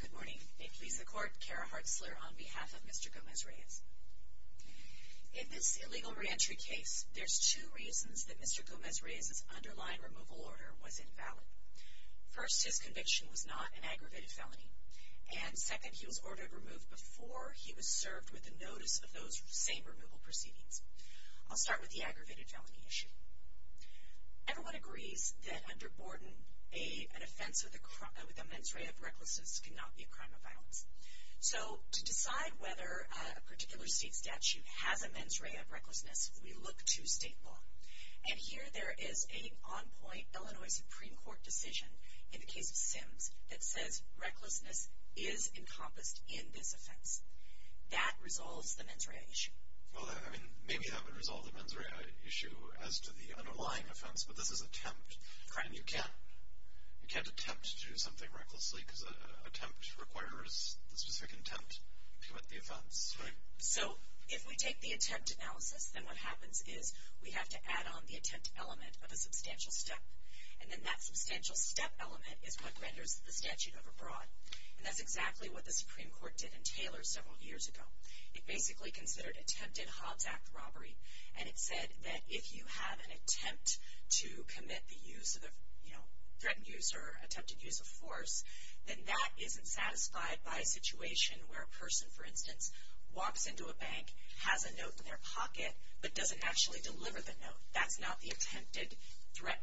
Good morning. May it please the Court, Kara Hartzler on behalf of Mr. Gomez-Reyes. In this illegal reentry case, there's two reasons that Mr. Gomez-Reyes's underlying removal order was invalid. First, his conviction was not an aggravated felony. And second, he was ordered removed before he was served with the notice of those same removal proceedings. I'll start with the aggravated felony issue. Everyone agrees that under Borden, an offense with a mens rea of recklessness cannot be a crime of violence. So to decide whether a particular state statute has a mens rea of recklessness, we look to state law. And here there is an on-point Illinois Supreme Court decision in the case of Sims that says recklessness is encompassed in this offense. That resolves the mens rea issue. Well, maybe that would resolve the mens rea issue as to the underlying offense, but this is an attempt. And you can't attempt to do something recklessly because an attempt requires the specific intent to commit the offense. So if we take the attempt analysis, then what happens is we have to add on the attempt element of a substantial step. And then that substantial step element is what renders the statute overbroad. And that's exactly what the Supreme Court did in Taylor several years ago. It basically considered attempted Hobbs Act robbery. And it said that if you have an attempt to commit the use of the, you know, threatened use or attempted use of force, then that isn't satisfied by a situation where a person, for instance, walks into a bank, has a note in their pocket, but doesn't actually deliver the note. That's not the attempted threat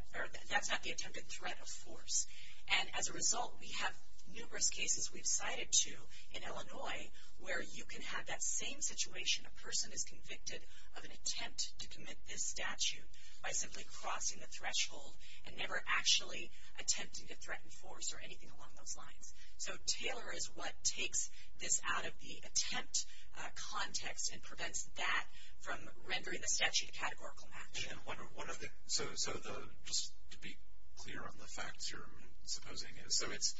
of force. And as a result, we have numerous cases we've cited to in Illinois where you can have that same situation, a person is convicted of an attempt to commit this statute by simply crossing the threshold and never actually attempting to threaten force or anything along those lines. So Taylor is what takes this out of the attempt context and prevents that from rendering the statute a categorical match. So just to be clear on the facts you're supposing. So it's,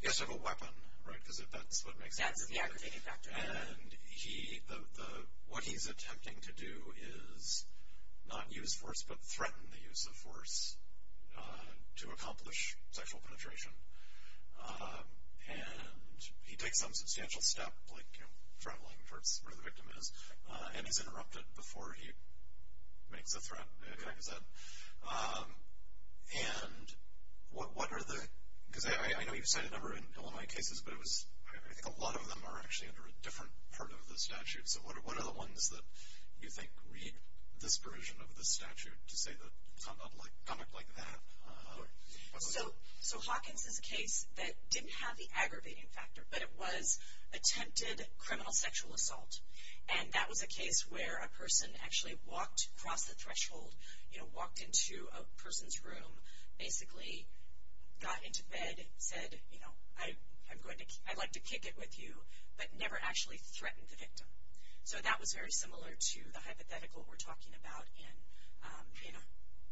he has to have a weapon, right? Because that's what makes him a victim. That's the aggravating factor. And what he's attempting to do is not use force, but threaten the use of force to accomplish sexual penetration. And he takes some substantial step, like traveling towards where the victim is, and he's interrupted before he makes a threat, like I said. And what are the, because I know you've cited a number in Illinois cases, but it was, I think a lot of them are actually under a different part of the statute. So what are the ones that you think read this version of the statute to say that conduct like that? So Hawkins' case that didn't have the aggravating factor, but it was attempted criminal sexual assault. And that was a case where a person actually walked across the threshold, you know, walked into a person's room, basically got into bed, said, you know, I'd like to kick it with you, but never actually threatened the victim. So that was very similar to the hypothetical we're talking about in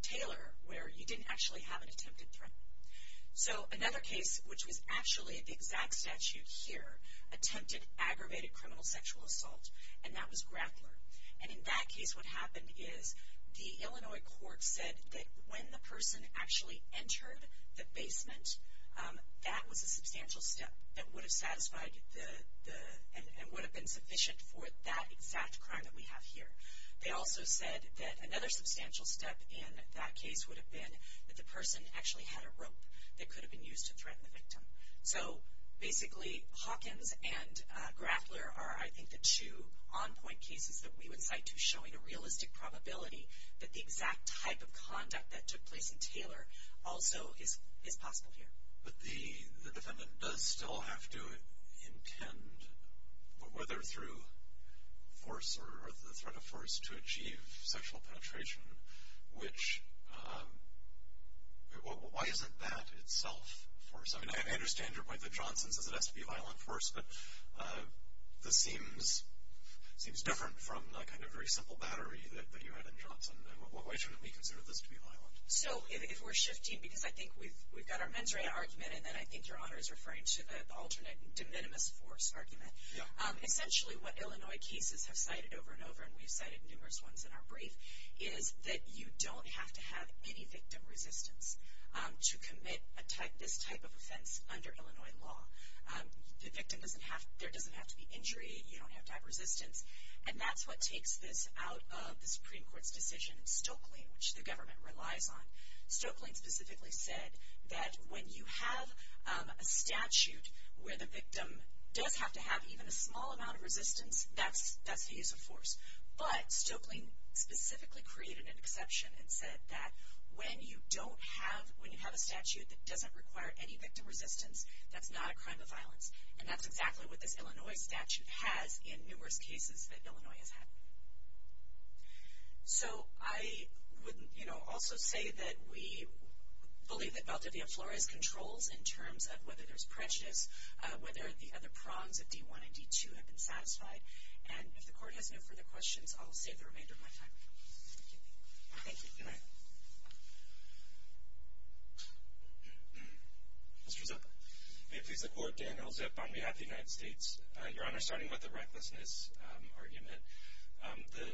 Taylor, where you didn't actually have an attempted threat. So another case, which was actually the exact statute here, attempted aggravated criminal sexual assault, and that was Grappler. And in that case what happened is the Illinois court said that when the person actually entered the basement, that was a substantial step that would have satisfied the, and would have been sufficient for that exact crime that we have here. They also said that another substantial step in that case would have been that the person actually had a rope that could have been used to threaten the victim. So basically Hawkins and Grappler are, I think, the two on-point cases that we would cite to showing a realistic probability that the exact type of conduct that took place in Taylor also is possible here. But the defendant does still have to intend, whether through force or the threat of force, to achieve sexual penetration, which, why isn't that itself force? I mean, I understand your point that Johnson says it has to be violent force, but this seems different from the kind of very simple battery that you had in Johnson. Why shouldn't we consider this to be violent? So if we're shifting, because I think we've got our mens rea argument, and then I think Your Honor is referring to the alternate de minimis force argument. Essentially what Illinois cases have cited over and over, and we've cited numerous ones in our brief, is that you don't have to have any victim resistance to commit this type of offense under Illinois law. The victim doesn't have to be injured, you don't have to have resistance, and that's what takes this out of the Supreme Court's decision in Stokely, which the government relies on. Stokely specifically said that when you have a statute where the victim does have to have even a small amount of resistance, that's the use of force. But Stokely specifically created an exception and said that when you don't have, when you have a statute that doesn't require any victim resistance, that's not a crime of violence. And that's exactly what this Illinois statute has in numerous cases that Illinois has had. So I would also say that we believe that Valdivia Flores controls in terms of whether there's prejudice, whether the other prongs of D1 and D2 have been satisfied. And if the Court has no further questions, I'll save the remainder of my time. Thank you. Thank you. Good night. Mr. Zipp. May it please the Court, Daniel Zipp on behalf of the United States. Your Honor, starting with the recklessness argument, the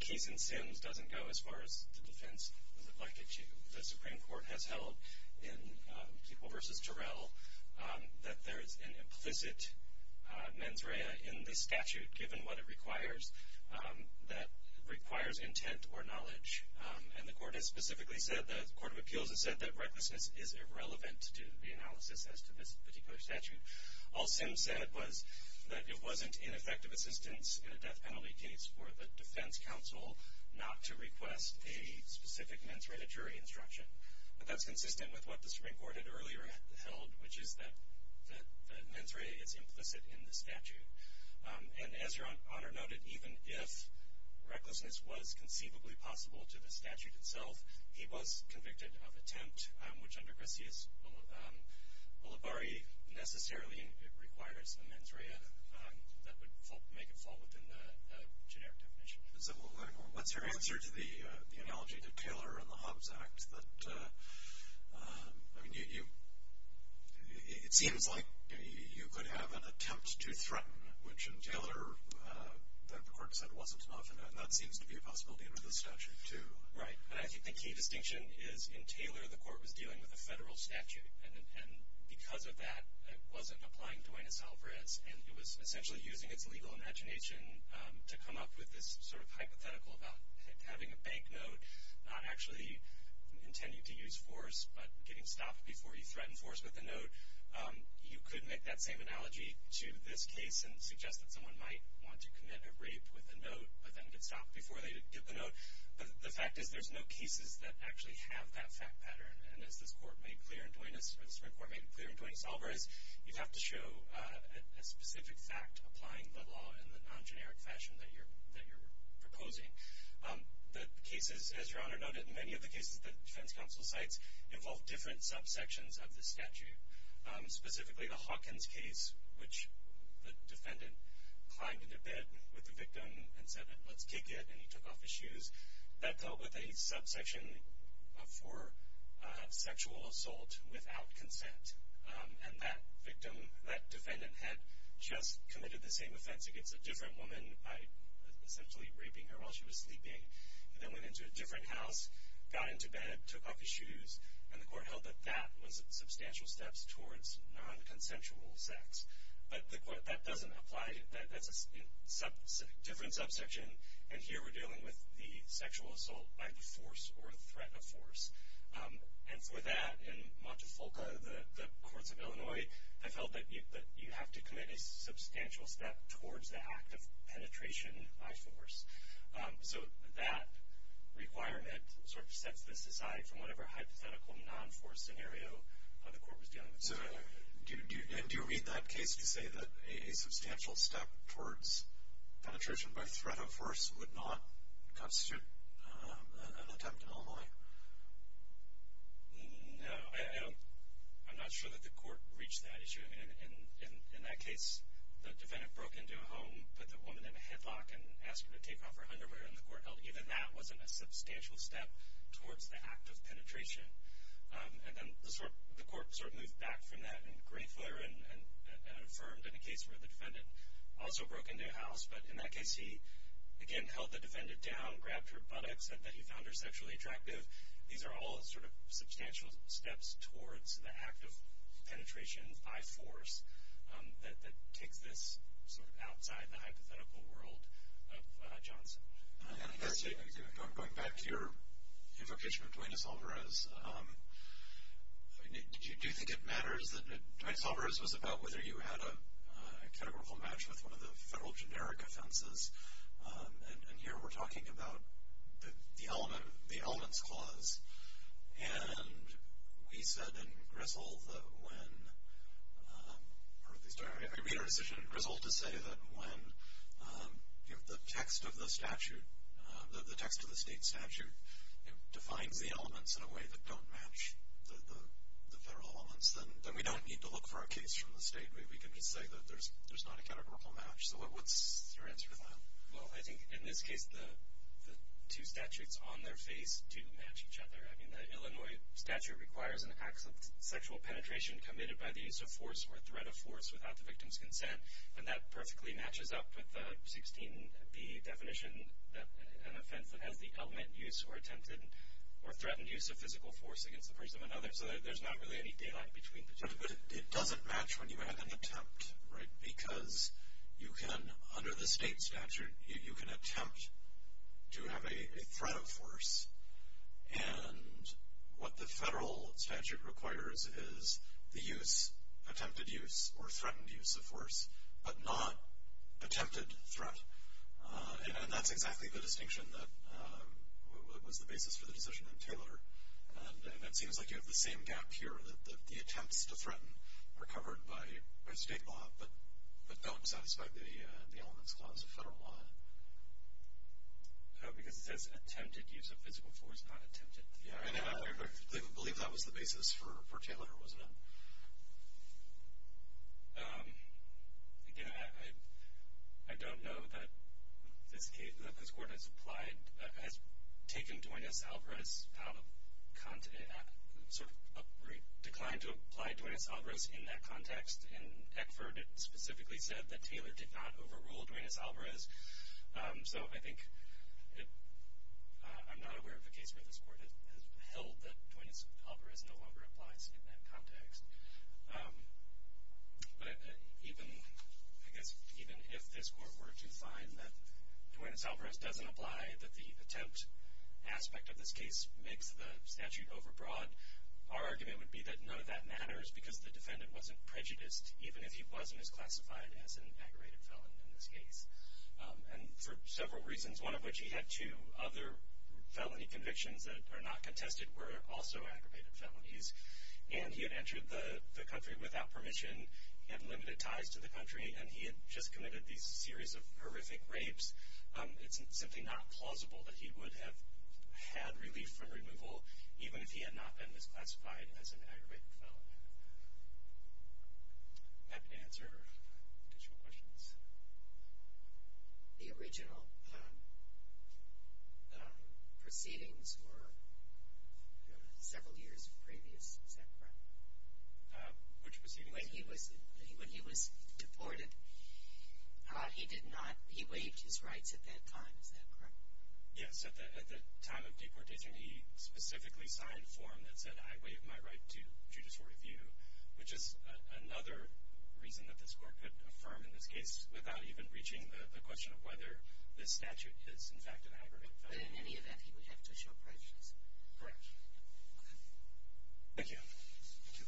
case in Sims doesn't go as far as the defense would like it to. The Supreme Court has held in Keeple v. Turell that there is an implicit mens rea in the statute, given what it requires, that requires intent or knowledge. And the Court has specifically said, the Court of Appeals has said, that recklessness is irrelevant to the analysis as to this particular statute. All Sims said was that it wasn't ineffective assistance in a death penalty case for the defense counsel not to request a specific mens rea jury instruction. But that's consistent with what the Supreme Court had earlier held, which is that the mens rea is implicit in the statute. And as Your Honor noted, even if recklessness was conceivably possible to the statute itself, he was convicted of attempt, which under Grisias Ulibarri necessarily requires the mens rea. That would make it fall within the generic definition. What's your answer to the analogy to Taylor and the Hobbs Act? It seems like you could have an attempt to threaten, which in Taylor the Court said wasn't enough, and that seems to be a possibility under this statute too. Right. I think the key distinction is in Taylor the Court was dealing with a federal statute, and because of that it wasn't applying Duenas-Alvarez, and it was essentially using its legal imagination to come up with this sort of hypothetical about having a bank note, not actually intending to use force, but getting stopped before you threaten force with a note. You could make that same analogy to this case and suggest that someone might want to commit a rape with a note, but then get stopped before they get the note. But the fact is there's no cases that actually have that fact pattern. And as this Court made clear in Duenas, or the Supreme Court made clear in Duenas-Alvarez, you'd have to show a specific fact applying the law in the non-generic fashion that you're proposing. The cases, as Your Honor noted, many of the cases that defense counsel cites involve different subsections of the statute, specifically the Hawkins case, which the defendant climbed into bed with the victim and said, let's kick it, and he took off his shoes. That dealt with a subsection for sexual assault without consent, and that victim, that defendant had just committed the same offense against a different woman by essentially raping her while she was sleeping. He then went into a different house, got into bed, took off his shoes, and the Court held that that was substantial steps towards non-consensual sex. But the Court, that doesn't apply, that's a different subsection, and here we're dealing with the sexual assault by force or threat of force. And for that, in Montefalco, the courts of Illinois, they felt that you have to commit a substantial step towards the act of penetration by force. So that requirement sort of sets this aside from whatever hypothetical non-force scenario the Court was dealing with. And do you read that case to say that a substantial step towards penetration by threat of force would not constitute an attempt in Illinois? No, I'm not sure that the Court reached that issue. In that case, the defendant broke into a home, put the woman in a headlock, and asked her to take off her underwear, and the Court held even that wasn't a substantial step towards the act of penetration. And then the Court sort of moved back from that in Greyfoot, and affirmed in a case where the defendant also broke into a house, but in that case he, again, held the defendant down, grabbed her buttocks, said that he found her sexually attractive. These are all sort of substantial steps towards the act of penetration by force that takes this sort of outside the hypothetical world of Johnson. Going back to your invocation of Duenas-Alvarez, do you think it matters that Duenas-Alvarez was about whether you had a categorical match with one of the federal generic offenses? And here we're talking about the elements clause. And we said in Grisel that when, or at least we made a decision in Grisel to say that when the text of the statute, the text of the state statute, defines the elements in a way that don't match the federal elements, then we don't need to look for a case from the state. We can just say that there's not a categorical match. So what's your answer to that? Well, I think in this case the two statutes on their face do match each other. I mean, the Illinois statute requires an act of sexual penetration committed by the use of force or threat of force without the victim's consent, and that perfectly matches up with the 16B definition, an offense that has the element used or attempted or threatened use of physical force against the person or another. So there's not really any daylight between the two. But it doesn't match when you add an attempt, right? Because you can, under the state statute, you can attempt to have a threat of force, and what the federal statute requires is the use, attempted use, or threatened use of force, but not attempted threat. And that's exactly the distinction that was the basis for the decision in Taylor. And it seems like you have the same gap here, that the attempts to threaten are covered by state law but don't satisfy the elements clause of federal law. Oh, because it says attempted use of physical force, not attempted. Yeah, I believe that was the basis for Taylor, wasn't it? Again, I don't know that this Court has applied, has taken Duenas-Alvarez out of, sort of declined to apply Duenas-Alvarez in that context. In Eckford, it specifically said that Taylor did not overrule Duenas-Alvarez. So I think I'm not aware of a case where this Court has held that Duenas-Alvarez no longer applies in that context. But even, I guess, even if this Court were to find that Duenas-Alvarez doesn't apply, that the attempt aspect of this case makes the statute overbroad, our argument would be that none of that matters because the defendant wasn't prejudiced, even if he wasn't as classified as an aggravated felon in this case. And for several reasons, one of which he had two other felony convictions that are not contested, were also aggravated felonies. And he had entered the country without permission. He had limited ties to the country. And he had just committed these series of horrific rapes. It's simply not plausible that he would have had relief from removal, even if he had not been misclassified as an aggravated felon. Happy to answer additional questions. The original proceedings were several years previous. Is that correct? Which proceedings? When he was deported, he did not, he waived his rights at that time. Is that correct? Yes. At the time of deportation, he specifically signed a form that said, I waive my right to judicial review, which is another reason that this court could affirm in this case without even reaching the question of whether this statute is, in fact, an aggravated felony. But in any event, he would have to show prejudice. Correct. Okay. Thank you. Thank you.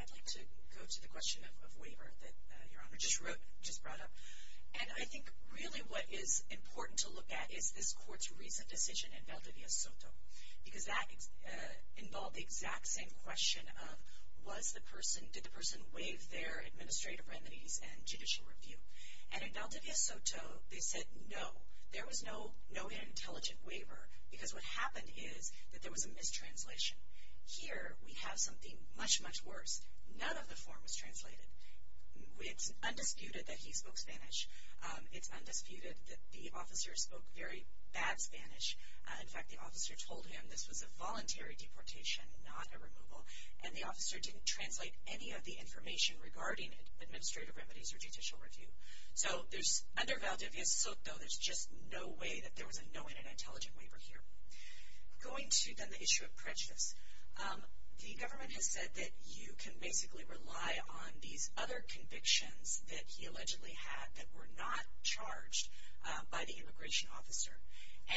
I'd like to go to the question of waiver that Your Honor just brought up. And I think really what is important to look at is this court's recent decision in Valdivia Soto, because that involved the exact same question of was the person, did the person waive their administrative remedies and judicial review. And in Valdivia Soto, they said no. There was no intelligent waiver because what happened is that there was a mistranslation. Here, we have something much, much worse. None of the form was translated. It's undisputed that he spoke Spanish. It's undisputed that the officer spoke very bad Spanish. In fact, the officer told him this was a voluntary deportation, not a removal. And the officer didn't translate any of the information regarding administrative remedies or judicial review. So under Valdivia Soto, there's just no way that there was a knowing and intelligent waiver here. Going to, then, the issue of prejudice. The government has said that you can basically rely on these other convictions that he allegedly had that were not charged by the immigration officer.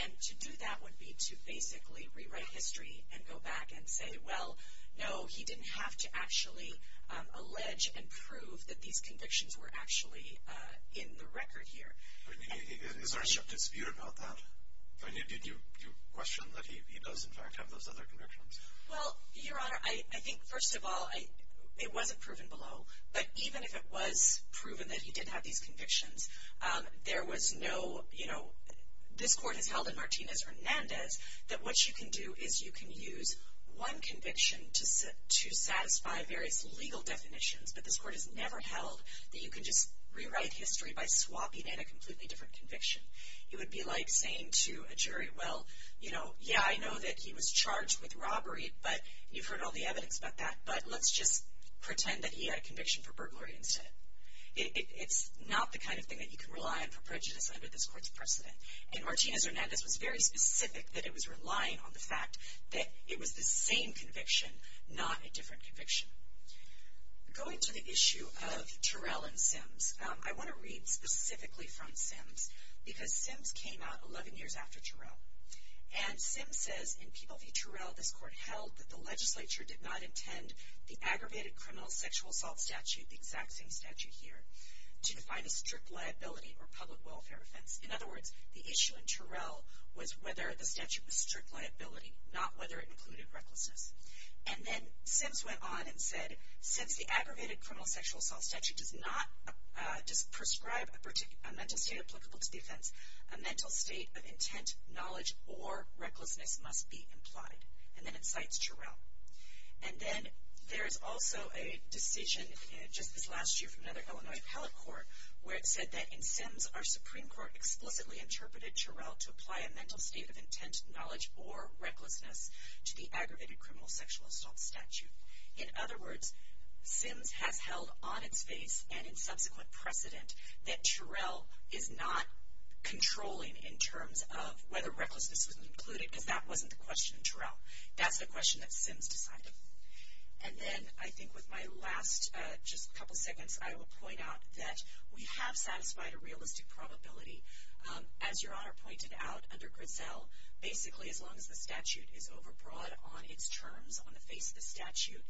And to do that would be to basically rewrite history and go back and say, well, no, he didn't have to actually allege and prove that these convictions were actually in the record here. Is there a dispute about that? Did you question that he does, in fact, have those other convictions? Well, Your Honor, I think, first of all, it wasn't proven below. But even if it was proven that he did have these convictions, there was no, you know, this court has held in Martinez-Hernandez that what you can do is you can use one conviction to satisfy various legal definitions. But this court has never held that you can just rewrite history by swapping in a completely different conviction. It would be like saying to a jury, well, you know, yeah, I know that he was charged with robbery, but you've heard all the evidence about that, but let's just pretend that he had a conviction for burglary instead. It's not the kind of thing that you can rely on for prejudice under this court's precedent. And Martinez-Hernandez was very specific that it was relying on the fact that it was the same conviction, not a different conviction. Going to the issue of Terrell and Sims, I want to read specifically from Sims because Sims came out 11 years after Terrell. And Sims says, in People v. Terrell, this court held that the legislature did not intend the aggravated criminal sexual assault statute, the exact same statute here, to define a strict liability or public welfare offense. In other words, the issue in Terrell was whether the statute was strict liability, not whether it included recklessness. And then Sims went on and said, since the aggravated criminal sexual assault statute does not prescribe a mental state applicable to the offense, a mental state of intent, knowledge, or recklessness must be implied. And then it cites Terrell. And then there is also a decision just this last year from another Illinois appellate court where it said that in Sims, our Supreme Court explicitly interpreted Terrell to apply a mental state of intent, knowledge, or recklessness to the aggravated criminal sexual assault statute. In other words, Sims has held on its face and in subsequent precedent that Terrell is not controlling in terms of whether recklessness was included because that wasn't the question in Terrell. That's the question that Sims decided. And then I think with my last just couple of segments, I will point out that we have satisfied a realistic probability. As Your Honor pointed out, under Grisell, basically as long as the statute is overbroad on its terms on the face of the statute,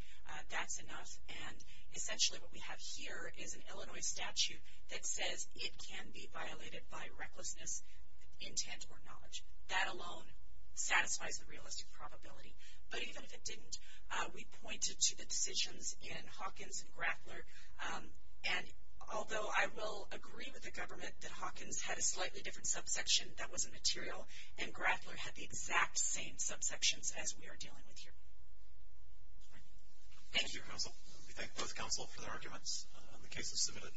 that's enough. And essentially what we have here is an Illinois statute that says it can be violated by recklessness, intent, or knowledge. That alone satisfies the realistic probability. But even if it didn't, we pointed to the decisions in Hawkins and Grappler. And although I will agree with the government that Hawkins had a slightly different subsection that wasn't material, and Grappler had the exact same subsections as we are dealing with here. Thank you, counsel. We thank both counsel for their arguments. The case is submitted.